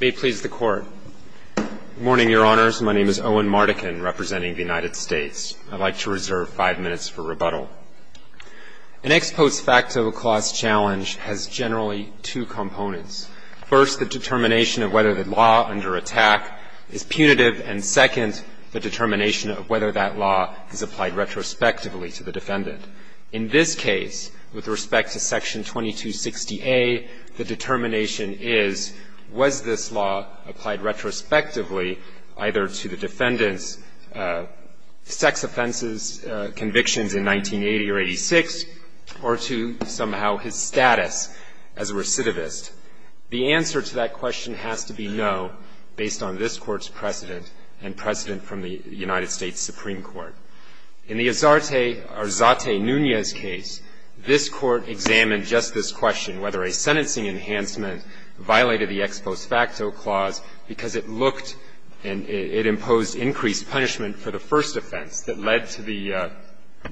May it please the Court. Good morning, Your Honors. My name is Owen Mardikin, representing the United States. I'd like to reserve five minutes for rebuttal. An ex post facto clause challenge has generally two components. First, the determination of whether the law under attack is punitive, and second, the determination of whether that law is applied retrospectively to the defendant. In this case, with respect to Section 2260A, the determination is, was this law applied retrospectively either to the defendant's sex offenses convictions in 1980 or 86, or to somehow his status as a recidivist? The answer to that question has to be no, based on this Court's precedent and precedent from the United States Supreme Court. In the Azarte Arzate Nunez case, this Court examined just this question, whether a sentencing enhancement violated the ex post facto clause because it looked and it imposed increased punishment for the first offense that led to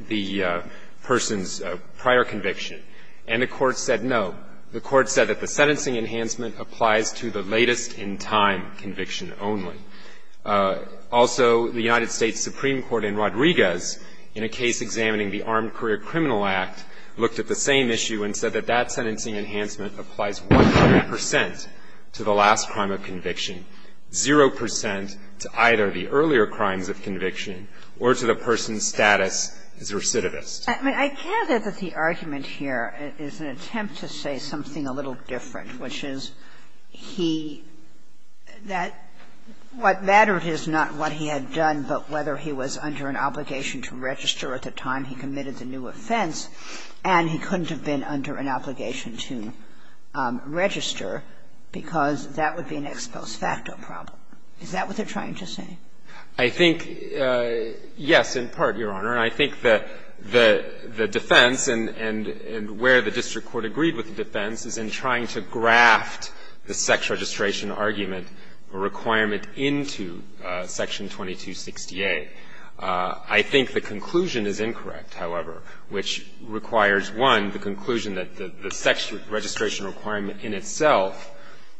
the person's prior conviction. And the Court said no. The Court said that the sentencing enhancement applies to the latest in time conviction only. Also, the United States Supreme Court in Rodriguez, in a case examining the Armed Career Criminal Act, looked at the same issue and said that that sentencing enhancement applies 100 percent to the last crime of conviction, 0 percent to either the earlier crimes of conviction or to the person's status as a recidivist. I mean, I get it that the argument here is an attempt to say something a little different, which is he that what mattered is not what he had done, but whether he was under an obligation to register at the time he committed the new offense and he couldn't have been under an obligation to register because that would be an ex post facto problem. Is that what they're trying to say? I think, yes, in part, Your Honor. And I think the defense and where the district court agreed with the defense is in trying to graft the sex registration argument requirement into Section 2268. I think the conclusion is incorrect, however, which requires, one, the conclusion that the sex registration requirement in itself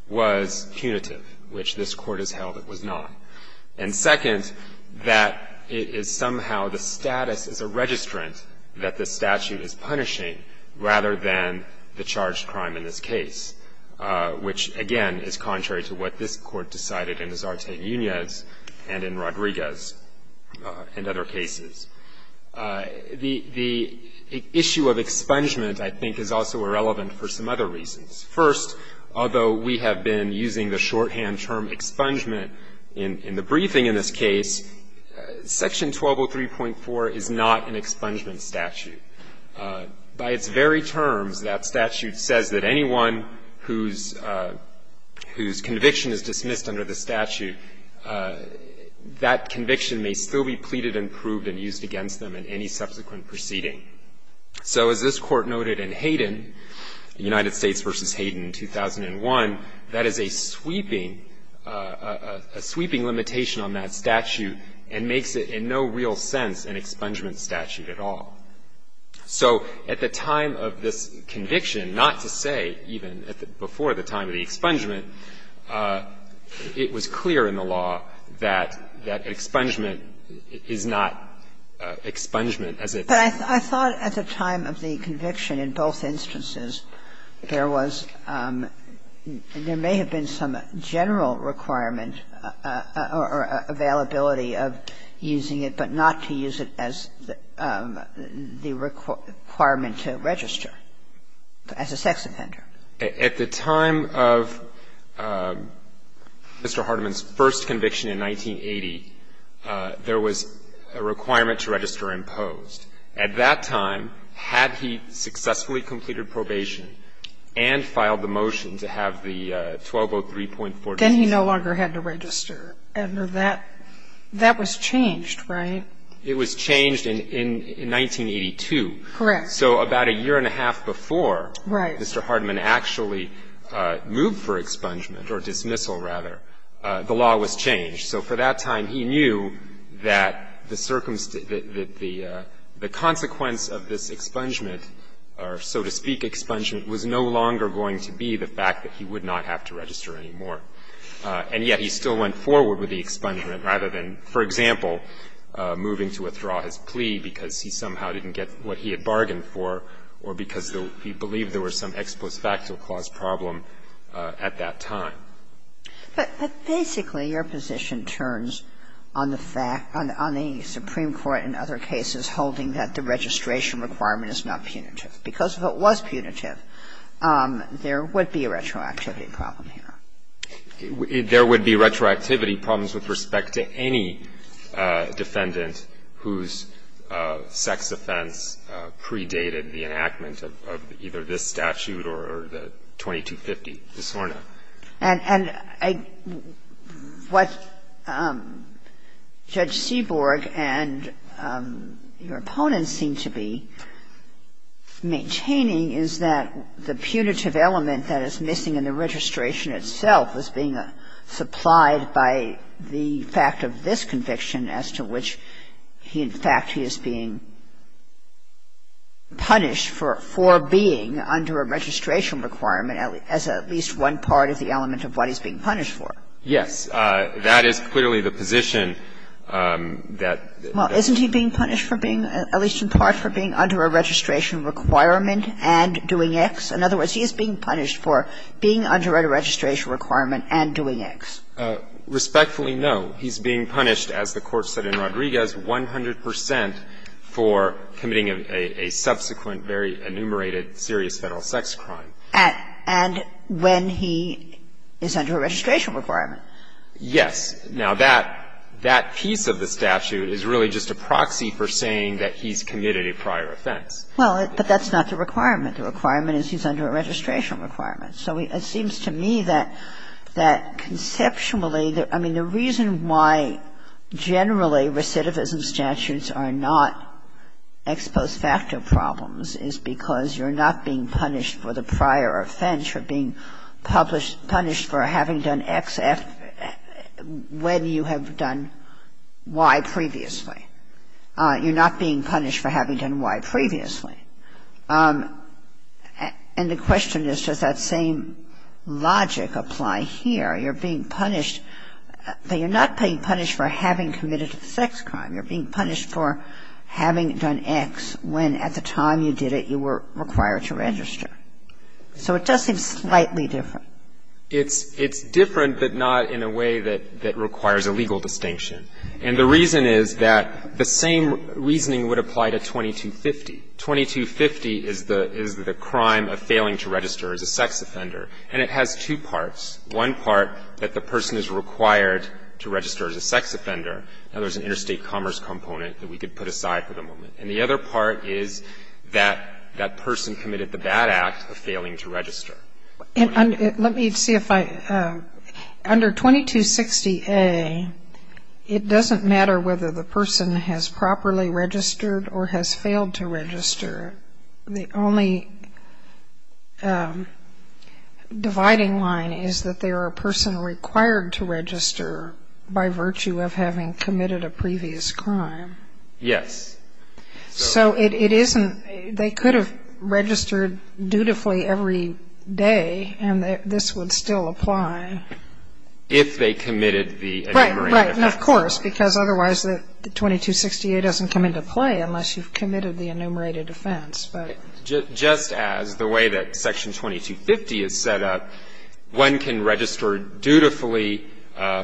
was punitive, which this Court has held it was not. And, second, that it is somehow the status as a registrant that the statute is punishing rather than the charged crime in this case, which, again, is contrary to what this Court decided in Azarte-Unias and in Rodriguez and other cases. The issue of expungement, I think, is also irrelevant for some other reasons. First, although we have been using the shorthand term expungement in the briefing in this case, Section 1203.4 is not an expungement statute. By its very terms, that statute says that anyone whose conviction is dismissed under the statute, that conviction may still be pleaded and proved and used against them in any subsequent proceeding. So as this Court noted in Hayden, United States v. Hayden, 2001, that is a sweeping limitation on that statute and makes it in no real sense an expungement statute at all. So at the time of this conviction, not to say even before the time of the expungement, it was clear in the law that expungement is not expungement as it is in the statute. And I thought at the time of the conviction in both instances, there was – there may have been some general requirement or availability of using it, but not to use it as the requirement to register as a sex offender. At the time of Mr. Hardiman's first conviction in 1980, there was a requirement to register imposed. At that time, had he successfully completed probation and filed the motion to have the 1203.4- Then he no longer had to register. That was changed, right? It was changed in 1982. Correct. So about a year and a half before Mr. Hardiman actually moved for expungement or dismissal, rather, the law was changed. So for that time, he knew that the consequence of this expungement or, so to speak, expungement was no longer going to be the fact that he would not have to register anymore. And yet he still went forward with the expungement rather than, for example, moving to withdraw his plea because he somehow didn't get what he had bargained for or because he believed there was some ex post facto clause problem at that time. But basically, your position turns on the fact – on the Supreme Court in other cases holding that the registration requirement is not punitive. Because if it was punitive, there would be a retroactivity problem here. There would be retroactivity problems with respect to any defendant whose sex offense predated the enactment of either this statute or the 2250 disorder. And what Judge Seaborg and your opponents seem to be maintaining is that the punitive element that is missing in the registration itself is being supplied by the fact of this conviction as to which he in fact he is being punished for being under a registration requirement as at least one part of the element of what he's being punished for. Yes. That is clearly the position that the – Well, isn't he being punished for being – at least in part for being under a registration requirement and doing X? In other words, he is being punished for being under a registration requirement and doing X. Respectfully, no. He's being punished, as the Court said in Rodriguez, 100 percent for committing a subsequent, very enumerated, serious Federal sex crime. And when he is under a registration requirement. Yes. Now, that piece of the statute is really just a proxy for saying that he's committed a prior offense. Well, but that's not the requirement. The requirement is he's under a registration requirement. So it seems to me that conceptually – I mean, the reason why generally recidivism statutes are not ex post facto problems is because you're not being punished for the prior offense. You're being punished for having done X when you have done Y previously. You're not being punished for having done Y previously. And the question is, does that same logic apply here? You're being punished – but you're not being punished for having committed a sex crime. You're being punished for having done X when, at the time you did it, you were required to register. So it does seem slightly different. It's different, but not in a way that requires a legal distinction. And the reason is that the same reasoning would apply to 2250. 2250 is the crime of failing to register as a sex offender. And it has two parts. One part, that the person is required to register as a sex offender. Now, there's an interstate commerce component that we could put aside for the moment. And the other part is that that person committed the bad act of failing to register. And let me see if I – under 2260A, it doesn't matter whether the person has properly registered or has failed to register. The only dividing line is that they are a person required to register by virtue of having committed a previous crime. Yes. So it isn't – they could have registered dutifully every day, and this would still apply. If they committed the enumerated offense. Right, right, and of course, because otherwise the 2260A doesn't come into play unless you've committed the enumerated offense. Just as the way that Section 2250 is set up, one can register dutifully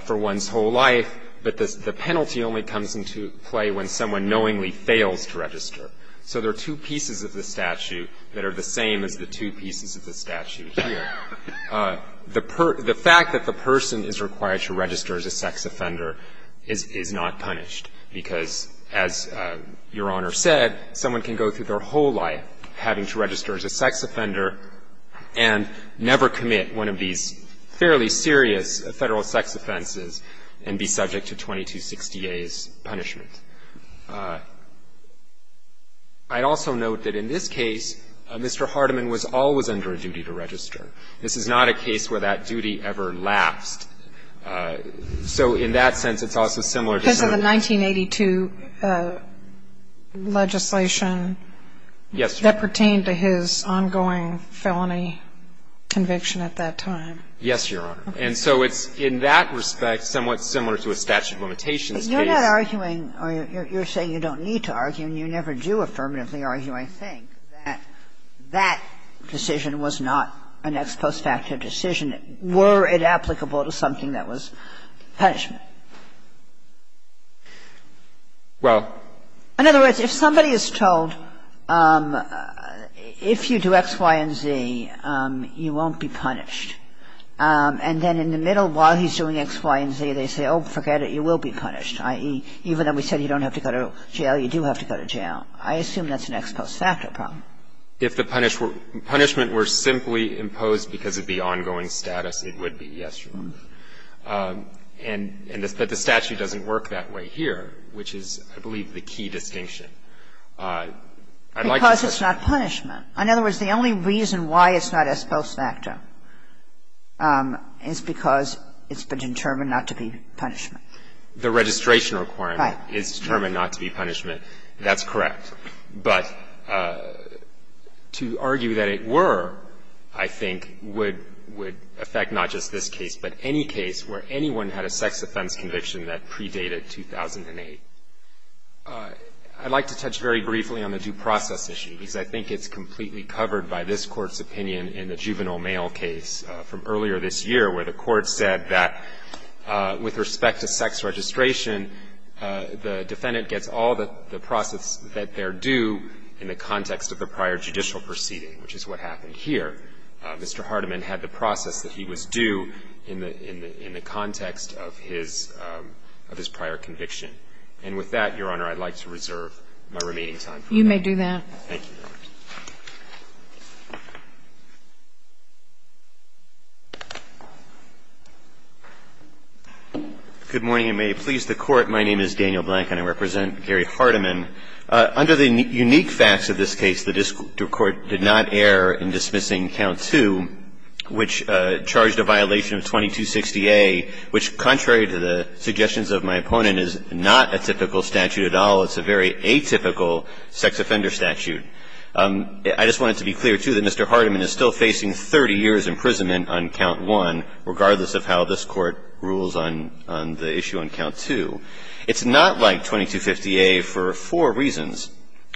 for one's whole life, but the penalty only comes into play when someone knowingly fails to register. So there are two pieces of the statute that are the same as the two pieces of the statute here. The fact that the person is required to register as a sex offender is not punished, because as Your Honor said, someone can go through their whole life having to register as a sex offender and never commit one of these fairly serious Federal sex offenses and be subject to 2260A's punishment. I'd also note that in this case, Mr. Hardiman was always under a duty to register. This is not a case where that duty ever lapsed. So in that sense, it's also similar to some of the other cases. Because of the 1982 legislation that pertained to his ongoing felony conviction at that time. Yes, Your Honor. And so it's, in that respect, somewhat similar to a statute of limitations case. But you're not arguing or you're saying you don't need to argue and you never do affirmatively argue, I think, that that decision was not an ex post facto decision. Were it applicable to something that was punishment? Well. In other words, if somebody is told, if you do X, Y, and Z, you won't be punished. And then in the middle, while he's doing X, Y, and Z, they say, oh, forget it, you will be punished, i.e., even though we said you don't have to go to jail, you do have to go to jail, I assume that's an ex post facto problem. If the punishment were simply imposed because of the ongoing status, it would be, yes, Your Honor. And the statute doesn't work that way here, which is, I believe, the key distinction. I'd like to say that. Because it's not punishment. In other words, the only reason why it's not ex post facto is because it's been determined not to be punishment. The registration requirement is determined not to be punishment. That's correct. But to argue that it were, I think, would affect not just this case, but any case where anyone had a sex offense conviction that predated 2008. I'd like to touch very briefly on the due process issue, because I think it's completely covered by this Court's opinion in the juvenile mail case from earlier this year, where the Court said that with respect to sex registration, the defendant gets all the process that they're due in the context of the prior judicial proceeding, which is what happened here. Mr. Hardiman had the process that he was due in the context of his prior conviction. And with that, Your Honor, I'd like to reserve my remaining time. You may do that. Thank you, Your Honor. Good morning, and may it please the Court. My name is Daniel Blank, and I represent Gary Hardiman. Under the unique facts of this case, the court did not err in dismissing Count II, which charged a violation of 2260A, which, contrary to the suggestions of my opponent, is not a typical statute at all. It's a very atypical sex offender statute. I just wanted to be clear, too, that Mr. Hardiman is still facing 30 years' imprisonment on Count I, regardless of how this Court rules on the issue on Count II. It's not like 2250A for four reasons.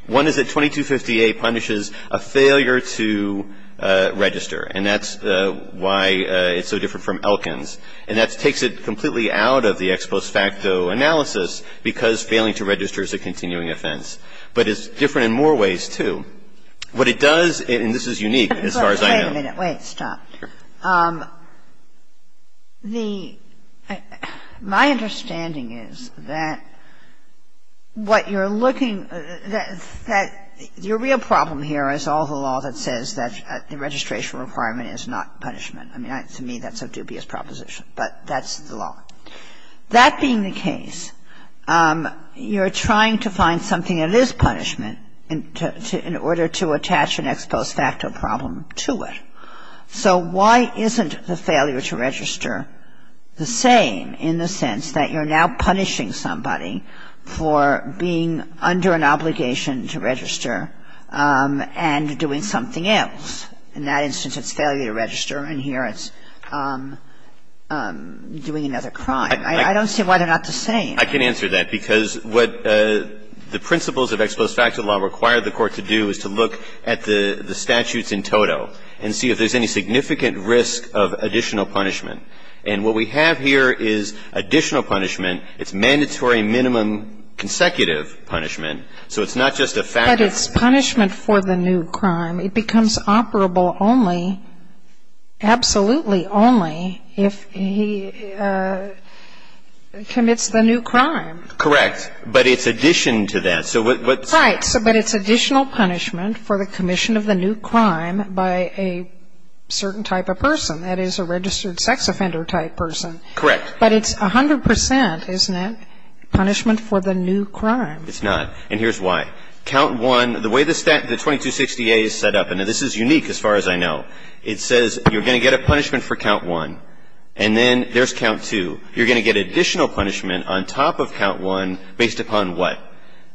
One is that 2250A punishes a failure to register, and that's why it's so different from Elkins. And that takes it completely out of the ex post facto analysis, because failing to register is a continuing offense. But it's different in more ways, too. What it does, and this is unique as far as I know. Wait a minute. Wait. Stop. The – my understanding is that what you're looking – that the real problem here is all the law that says that the registration requirement is not punishment. I mean, to me, that's a dubious proposition, but that's the law. That being the case, you're trying to find something that is punishment in order to attach an ex post facto problem to it. So why isn't the failure to register the same in the sense that you're now punishing somebody for being under an obligation to register and doing something else? In that instance, it's failure to register, and here it's doing another crime. I don't see why they're not the same. I can answer that, because what the principles of ex post facto law require the Court to do is to look at the statutes in toto and see if there's any significant risk of additional punishment. And what we have here is additional punishment. It's mandatory minimum consecutive punishment. So it's not just a factor. But it's punishment for the new crime. It becomes operable only, absolutely only, if he commits the new crime. Correct. But it's addition to that. Right. But it's additional punishment for the commission of the new crime by a certain type of person, that is, a registered sex offender type person. Correct. But it's 100%, isn't it, punishment for the new crime? It's not. And here's why. Count 1, the way the 2260A is set up, and this is unique as far as I know, it says you're going to get a punishment for count 1, and then there's count 2. You're going to get additional punishment on top of count 1 based upon what?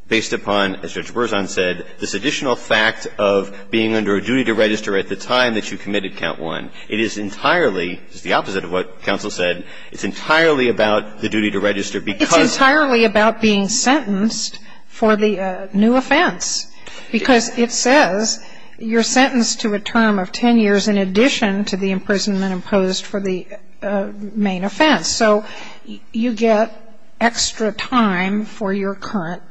Based upon, as Judge Berzon said, this additional fact of being under a duty to register at the time that you committed count 1. It is entirely, it's the opposite of what counsel said, it's entirely about the duty to register because It's entirely about being sentenced for the new offender type of offense. Because it says you're sentenced to a term of 10 years in addition to the imprisonment imposed for the main offense. So you get extra time for your current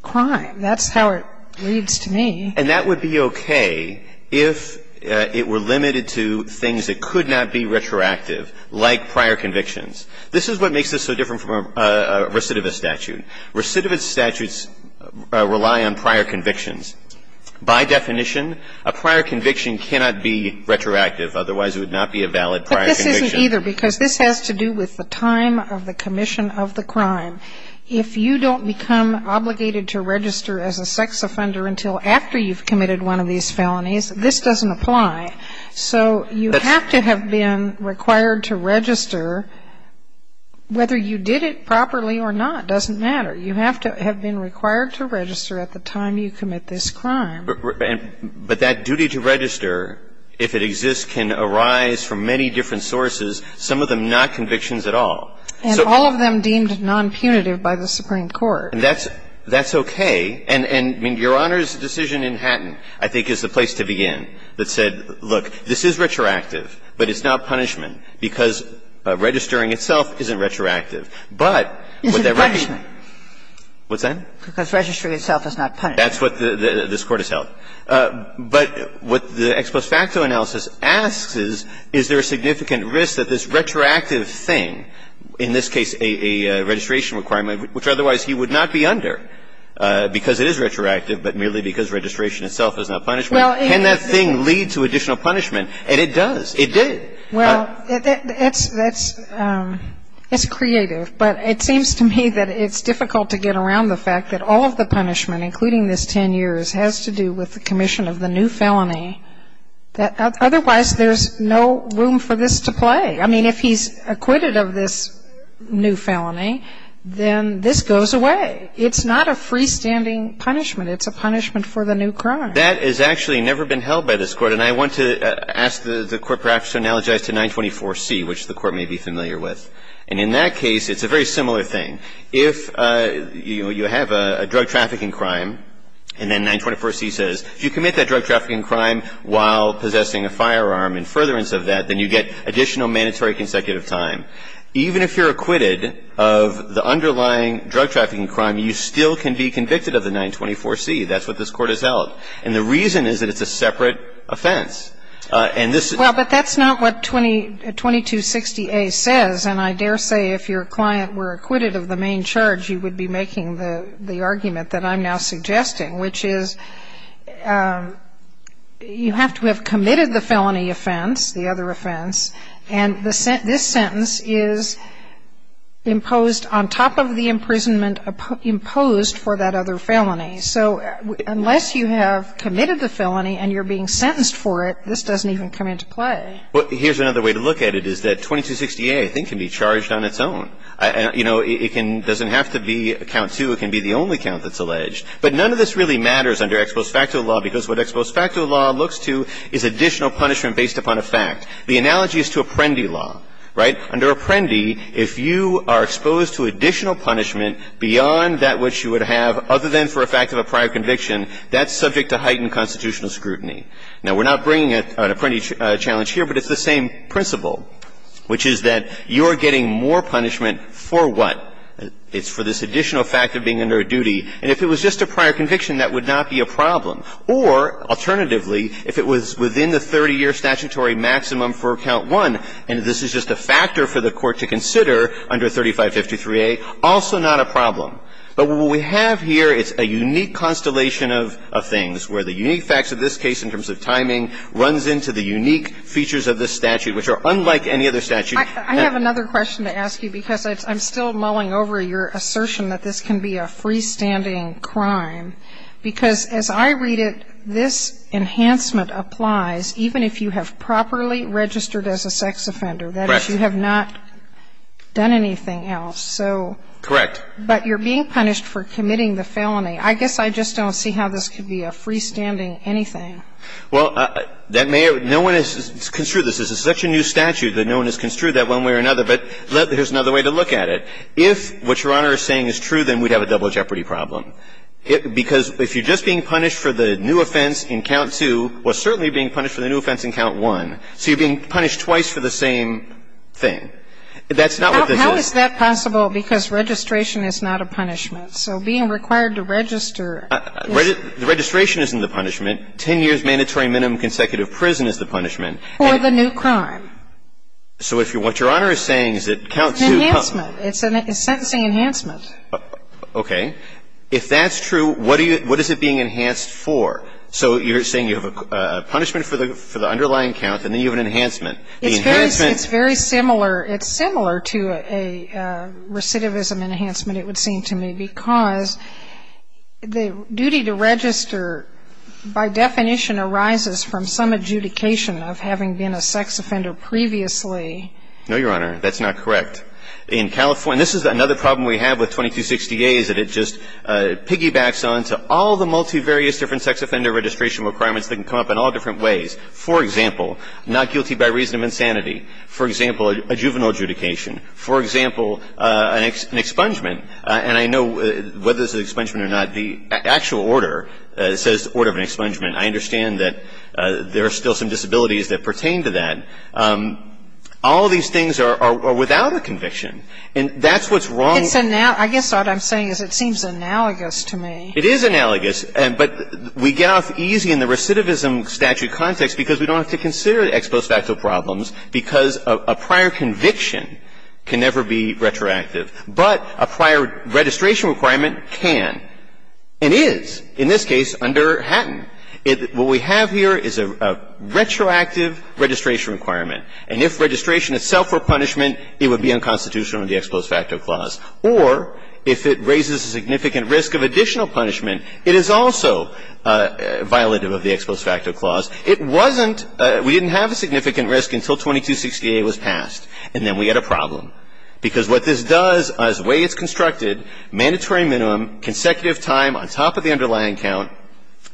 crime. That's how it reads to me. And that would be okay if it were limited to things that could not be retroactive, like prior convictions. This is what makes this so different from a recidivist statute. Recidivist statutes rely on prior convictions. By definition, a prior conviction cannot be retroactive, otherwise it would not be a valid prior conviction. But this isn't either because this has to do with the time of the commission of the crime. If you don't become obligated to register as a sex offender until after you've committed one of these felonies, this doesn't apply. So you have to have been required to register. Whether you did it properly or not doesn't matter. You have to have been required to register at the time you commit this crime. But that duty to register, if it exists, can arise from many different sources, some of them not convictions at all. And all of them deemed non-punitive by the Supreme Court. That's okay. And Your Honor's decision in Hatton, I think, is the place to begin, that said, look, this is retroactive, but it's not punishment, because registering itself isn't retroactive. But what that really means Is it punishment? What's that? Because registering itself is not punishment. That's what this Court has held. But what the ex post facto analysis asks is, is there a significant risk that this retroactive thing, in this case a registration requirement, which otherwise he would not be under because it is retroactive, but merely because registration itself is not punishment. Can that thing lead to additional punishment? And it does. It did. Well, it's creative. But it seems to me that it's difficult to get around the fact that all of the punishment, including this 10 years, has to do with the commission of the new felony. Otherwise, there's no room for this to play. I mean, if he's acquitted of this new felony, then this goes away. It's not a freestanding punishment. It's a punishment for the new crime. That has actually never been held by this Court. And I want to ask the Court perhaps to analogize to 924C, which the Court may be familiar with. And in that case, it's a very similar thing. If you have a drug trafficking crime, and then 924C says, if you commit that drug trafficking crime while possessing a firearm in furtherance of that, then you get additional mandatory consecutive time. Even if you're acquitted of the underlying drug trafficking crime, you still can be convicted of the 924C. That's what this Court has held. And the reason is that it's a separate offense. And this is — Well, but that's not what 2260A says. And I dare say if your client were acquitted of the main charge, you would be making the argument that I'm now suggesting, which is you have to have committed the felony offense, the other offense, and this sentence is imposed on top of the imprisonment imposed for that other felony. So unless you have committed the felony and you're being sentenced for it, this doesn't even come into play. Well, here's another way to look at it, is that 2260A, I think, can be charged on its own. You know, it can — doesn't have to be count two. It can be the only count that's alleged. But none of this really matters under ex post facto law, because what ex post facto law looks to is additional punishment based upon a fact. The analogy is to Apprendi law, right? Under Apprendi, if you are exposed to additional punishment beyond that which you would have, other than for a fact of a prior conviction, that's subject to heightened constitutional scrutiny. Now, we're not bringing an Apprendi challenge here, but it's the same principle, which is that you're getting more punishment for what? It's for this additional fact of being under a duty. And if it was just a prior conviction, that would not be a problem. Or, alternatively, if it was within the 30-year statutory maximum for count one, and this is just a factor for the Court to consider under 3553A, also not a problem. But what we have here, it's a unique constellation of things, where the unique facts of this case in terms of timing runs into the unique features of this statute, which are unlike any other statute. I have another question to ask you, because I'm still mulling over your assertion that this can be a freestanding crime, because as I read it, this enhancement applies even if you have properly registered as a sex offender. Correct. That is, you have not done anything else. So — Correct. But you're being punished for committing the felony. I guess I just don't see how this could be a freestanding anything. Well, that may have — no one has construed this. This is such a new statute that no one has construed that one way or another. But here's another way to look at it. If what Your Honor is saying is true, then we'd have a double jeopardy problem. Because if you're just being punished for the new offense in count two, well, certainly you're being punished for the new offense in count one. That's not what this is. How is that possible? Because registration is not a punishment. So being required to register is — The registration isn't the punishment. Ten years' mandatory minimum consecutive prison is the punishment. For the new crime. So if what Your Honor is saying is that count two — Enhancement. It's sentencing enhancement. Okay. If that's true, what is it being enhanced for? So you're saying you have a punishment for the underlying count, and then you have an enhancement. The enhancement — It's very similar. It's similar to a recidivism enhancement, it would seem to me, because the duty to register by definition arises from some adjudication of having been a sex offender previously. No, Your Honor. That's not correct. In California — this is another problem we have with 2260A is that it just piggybacks on to all the multivarious different sex offender registration requirements that can come up in all different ways. For example, not guilty by reason of insanity. For example, a juvenile adjudication. For example, an expungement. And I know whether it's an expungement or not, the actual order says order of an expungement. I understand that there are still some disabilities that pertain to that. All these things are without a conviction. And that's what's wrong — It's — I guess what I'm saying is it seems analogous to me. It is analogous. But we get off easy in the recidivism statute context because we don't have to consider the ex post facto problems because a prior conviction can never be retroactive. But a prior registration requirement can and is, in this case, under Hatton. What we have here is a retroactive registration requirement. And if registration itself were punishment, it would be unconstitutional under the ex post facto clause. Or if it raises a significant risk of additional punishment, it is also violative of the ex post facto clause. It wasn't — we didn't have a significant risk until 2268 was passed. And then we had a problem. Because what this does is the way it's constructed, mandatory minimum, consecutive time on top of the underlying count,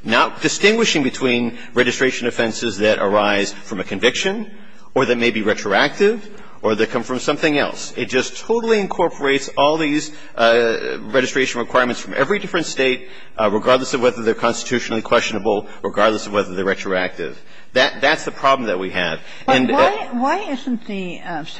not distinguishing between registration offenses that arise from a conviction or that may be retroactive or that come from something else. It just totally incorporates all these registration requirements from every different State, regardless of whether they're constitutionally questionable, regardless of whether they're retroactive. That's the problem that we have. And the other part is the punishment.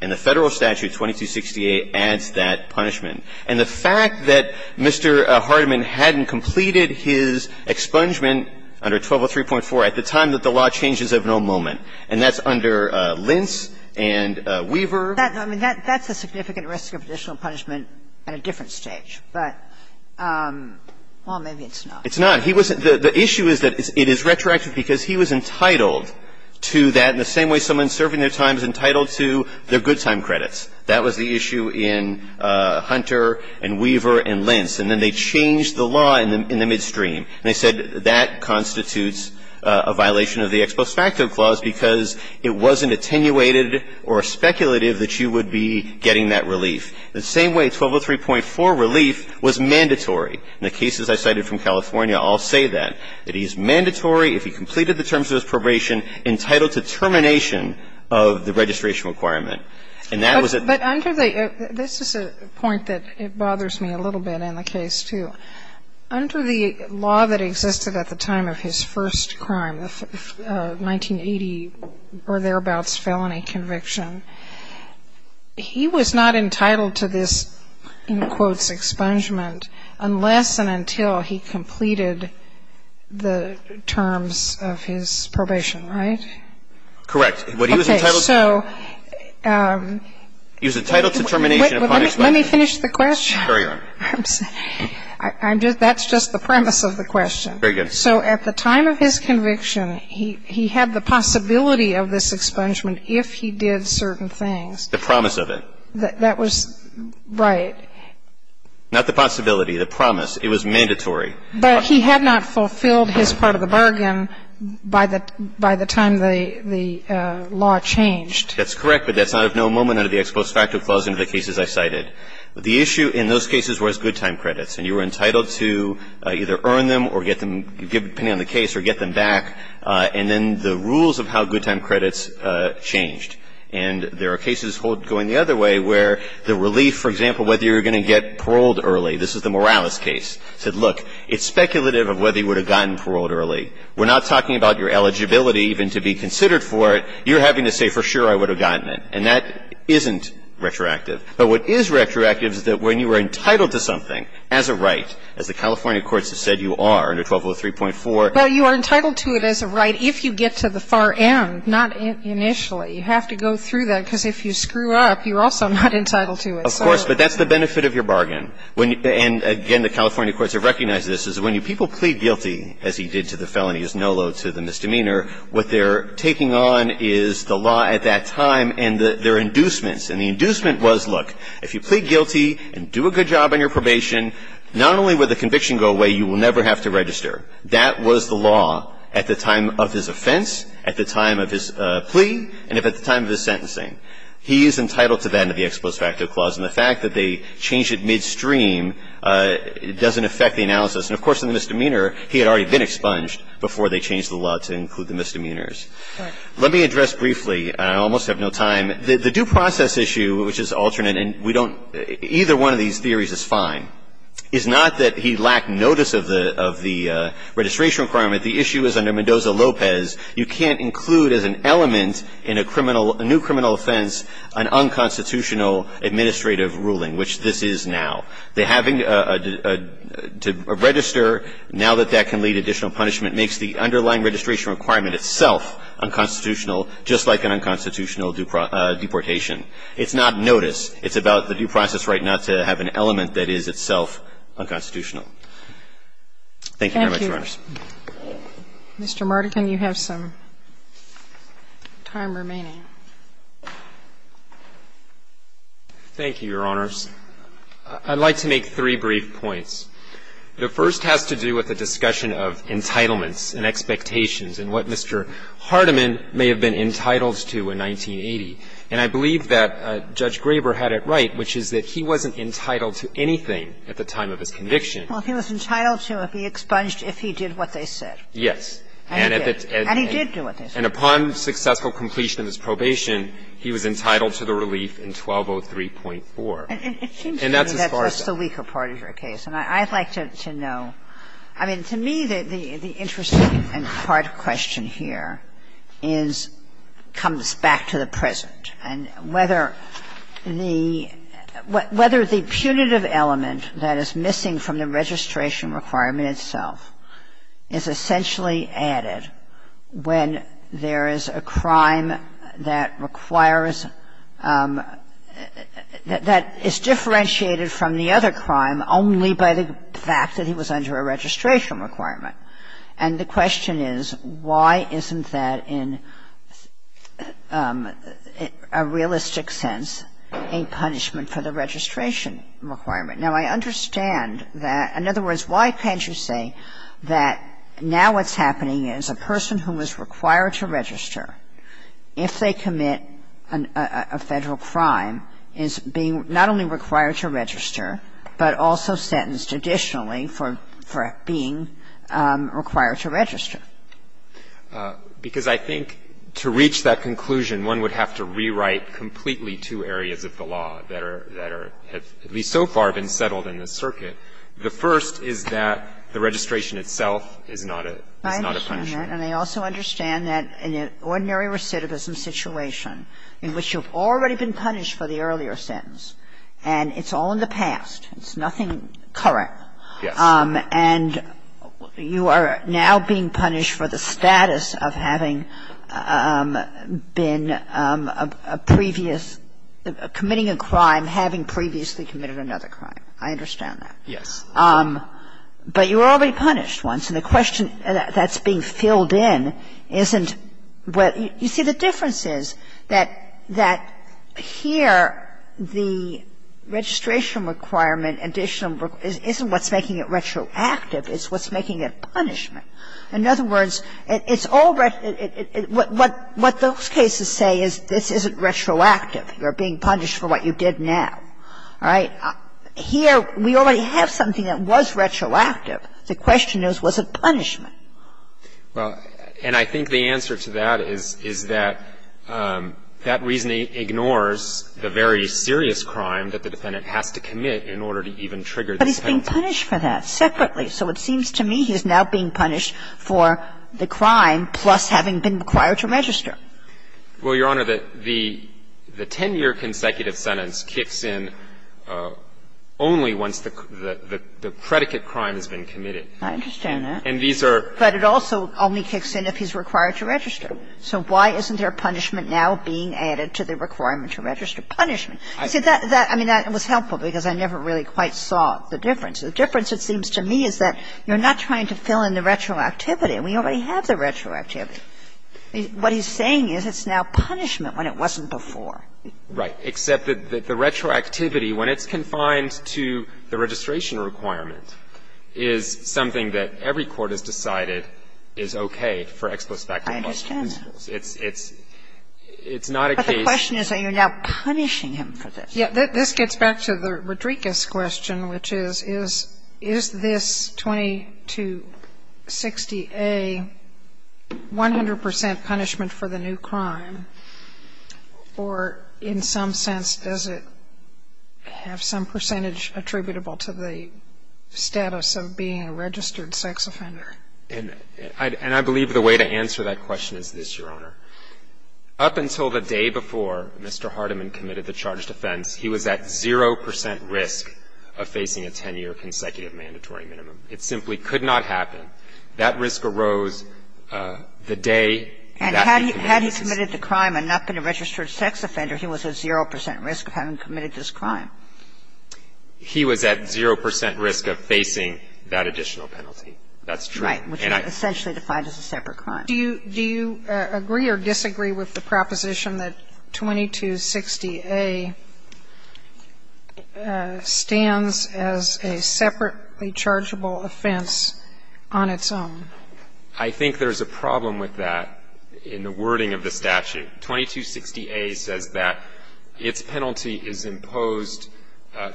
And the Federal statute, 2268, adds that punishment. And the fact that Mr. Hardiman hadn't completed his expungement under 1203.4 at the time that the law changes of no moment, and that's under Lentz and Weaver. I mean, that's a significant risk of additional punishment at a different stage. But, well, maybe it's not. It's not. He wasn't — the issue is that it is retroactive because he was entitled to that in the same way someone serving their time is entitled to their good time credits. That was the issue in Hunter and Weaver and Lentz. And then they changed the law in the midstream. And they said that constitutes a violation of the Expos Facto Clause because it wasn't attenuated or speculative that you would be getting that relief. The same way 1203.4 relief was mandatory. In the cases I cited from California, I'll say that. It is mandatory, if he completed the terms of his probation, entitled to termination of the registration requirement. And that was at the time. But under the — this is a point that bothers me a little bit in the case, too. Under the law that existed at the time of his first crime, the 1980 or thereabouts felony conviction, he was not entitled to this, in quotes, expungement unless and until he completed the terms of his probation, right? Correct. What he was entitled to was a title to termination upon expungement. Let me finish the question. Carry on. I'm just — that's just the premise of the question. Very good. So at the time of his conviction, he had the possibility of this expungement if he did certain things. The promise of it. That was — right. Not the possibility, the promise. It was mandatory. But he had not fulfilled his part of the bargain by the time the law changed. That's correct. But that's not of no moment under the ex post facto clause in the cases I cited. The issue in those cases was good time credits. And you were entitled to either earn them or get them — depending on the case — or get them back. And then the rules of how good time credits changed. And there are cases going the other way where the relief, for example, whether you're going to get paroled early — this is the Morales case — said, look, it's speculative of whether you would have gotten paroled early. We're not talking about your eligibility even to be considered for it. You're having to say, for sure, I would have gotten it. And that isn't retroactive. But what is retroactive is that when you are entitled to something as a right, as the California courts have said you are under 1203.4 — Well, you are entitled to it as a right if you get to the far end, not initially. You have to go through that because if you screw up, you're also not entitled to it. Of course. But that's the benefit of your bargain. And, again, the California courts have recognized this, is when people plead guilty, as he did to the felony, as Nolo to the misdemeanor, what they're taking on is the law at that time and their inducements. And the inducement was, look, if you plead guilty and do a good job on your probation, not only would the conviction go away, you will never have to register. That was the law at the time of his offense, at the time of his plea, and at the time of his sentencing. He is entitled to that under the Ex Post Facto Clause, and the fact that they change it midstream doesn't affect the analysis. And, of course, in the misdemeanor, he had already been expunged before they changed the law to include the misdemeanors. Let me address briefly, and I almost have no time, the due process issue, which is alternate, and we don't — either one of these theories is fine, is not that he lacked notice of the — of the registration requirement. The issue is under Mendoza-Lopez, you can't include as an element in a criminal — a new criminal offense an unconstitutional administrative ruling, which this is now. The having a — to register, now that that can lead to additional punishment, makes the underlying registration requirement itself unconstitutional, just like an unconstitutional deportation. It's not notice. It's about the due process right not to have an element that is itself unconstitutional. Thank you very much, Your Honors. Mr. Mardikin, you have some time remaining. Thank you, Your Honors. I'd like to make three brief points. The first has to do with the discussion of entitlements and expectations and what Mr. Hardiman may have been entitled to in 1980. And I believe that Judge Graber had it right, which is that he wasn't entitled to anything at the time of his conviction. Well, he was entitled to be expunged if he did what they said. Yes. And he did do what they said. And upon successful completion of his probation, he was entitled to the relief in 1203.4. And that's as far as I'm concerned. And it seems to me that that's the weaker part of your case. And I'd like to know — I mean, to me, the interesting and hard question here is — comes back to the present, and whether the — whether the punitive element that is missing from the registration requirement itself is essentially added when there is a crime that requires — that is differentiated from the other crime only by the fact that he was under a registration requirement. And the question is, why isn't that in a realistic sense a punishment for the registration requirement? Now, I understand that — in other words, why can't you say that now what's happening is a person who is required to register, if they commit a Federal crime, is being not only required to register, but also sentenced additionally for being required to register? Because I think to reach that conclusion, one would have to rewrite completely two areas of the law that are — that have at least so far been settled in this circuit. The first is that the registration itself is not a — is not a punishment. And I also understand that in an ordinary recidivism situation, in which you've already been punished for the earlier sentence, and it's all in the past, it's nothing current, and you are now being punished for the status of having been a previous — committing a crime, having previously committed another crime. I understand that. Yes. But you were already punished once, and the question that's being filled in isn't what — you see, the difference is that — that here, the registration requirement, additional — isn't what's making it retroactive. It's what's making it punishment. In other words, it's all — what those cases say is this isn't retroactive. You're being punished for what you did now. All right? Here, we already have something that was retroactive. The question is, was it punishment? Well, and I think the answer to that is — is that that reasoning ignores the very serious crime that the defendant has to commit in order to even trigger this penalty. But he's being punished for that separately. So it seems to me he's now being punished for the crime plus having been required to register. Well, Your Honor, the 10-year consecutive sentence kicks in only once the predicate crime has been committed. I understand that. And these are — But it also only kicks in if he's required to register. So why isn't there punishment now being added to the requirement to register punishment? You see, that — I mean, that was helpful because I never really quite saw the difference. The difference, it seems to me, is that you're not trying to fill in the retroactivity. We already have the retroactivity. What he's saying is it's now punishment when it wasn't before. Right. Except that the retroactivity, when it's confined to the registration requirement, is something that every court has decided is okay for ex-plos facto martial principles. I understand that. It's not a case — But the question is that you're now punishing him for this. Yeah. This gets back to the Rodriquez question, which is, is this 2260A 100 percent punishment for the new crime, or in some sense, does it have some percentage attributable to the status of being a registered sex offender? And I believe the way to answer that question is this, Your Honor. Up until the day before Mr. Hardiman committed the charged offense, he was at 0 percent risk of facing a 10-year consecutive mandatory minimum. It simply could not happen. That risk arose the day that he committed this. And had he committed the crime and not been a registered sex offender, he was at 0 percent risk of having committed this crime. He was at 0 percent risk of facing that additional penalty. That's true. Right. Which is essentially defined as a separate crime. Do you — do you agree or disagree with the proposition that 2260A stands as a separately chargeable offense on its own? I think there's a problem with that in the wording of the statute. 2260A says that its penalty is imposed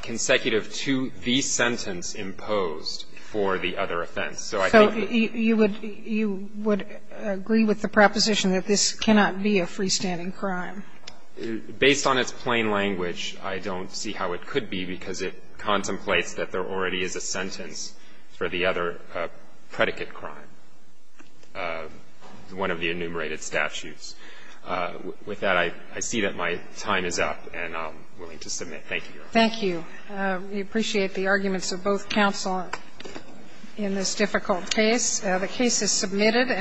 consecutive to the sentence imposed for the other offense. So I think the — So you would — you would agree with the proposition that this cannot be a freestanding crime? Based on its plain language, I don't see how it could be, because it contemplates that there already is a sentence for the other predicate crime, one of the enumerated statutes. With that, I see that my time is up, and I'm willing to submit. Thank you, Your Honor. Thank you. We appreciate the arguments of both counsel in this difficult case. The case is submitted.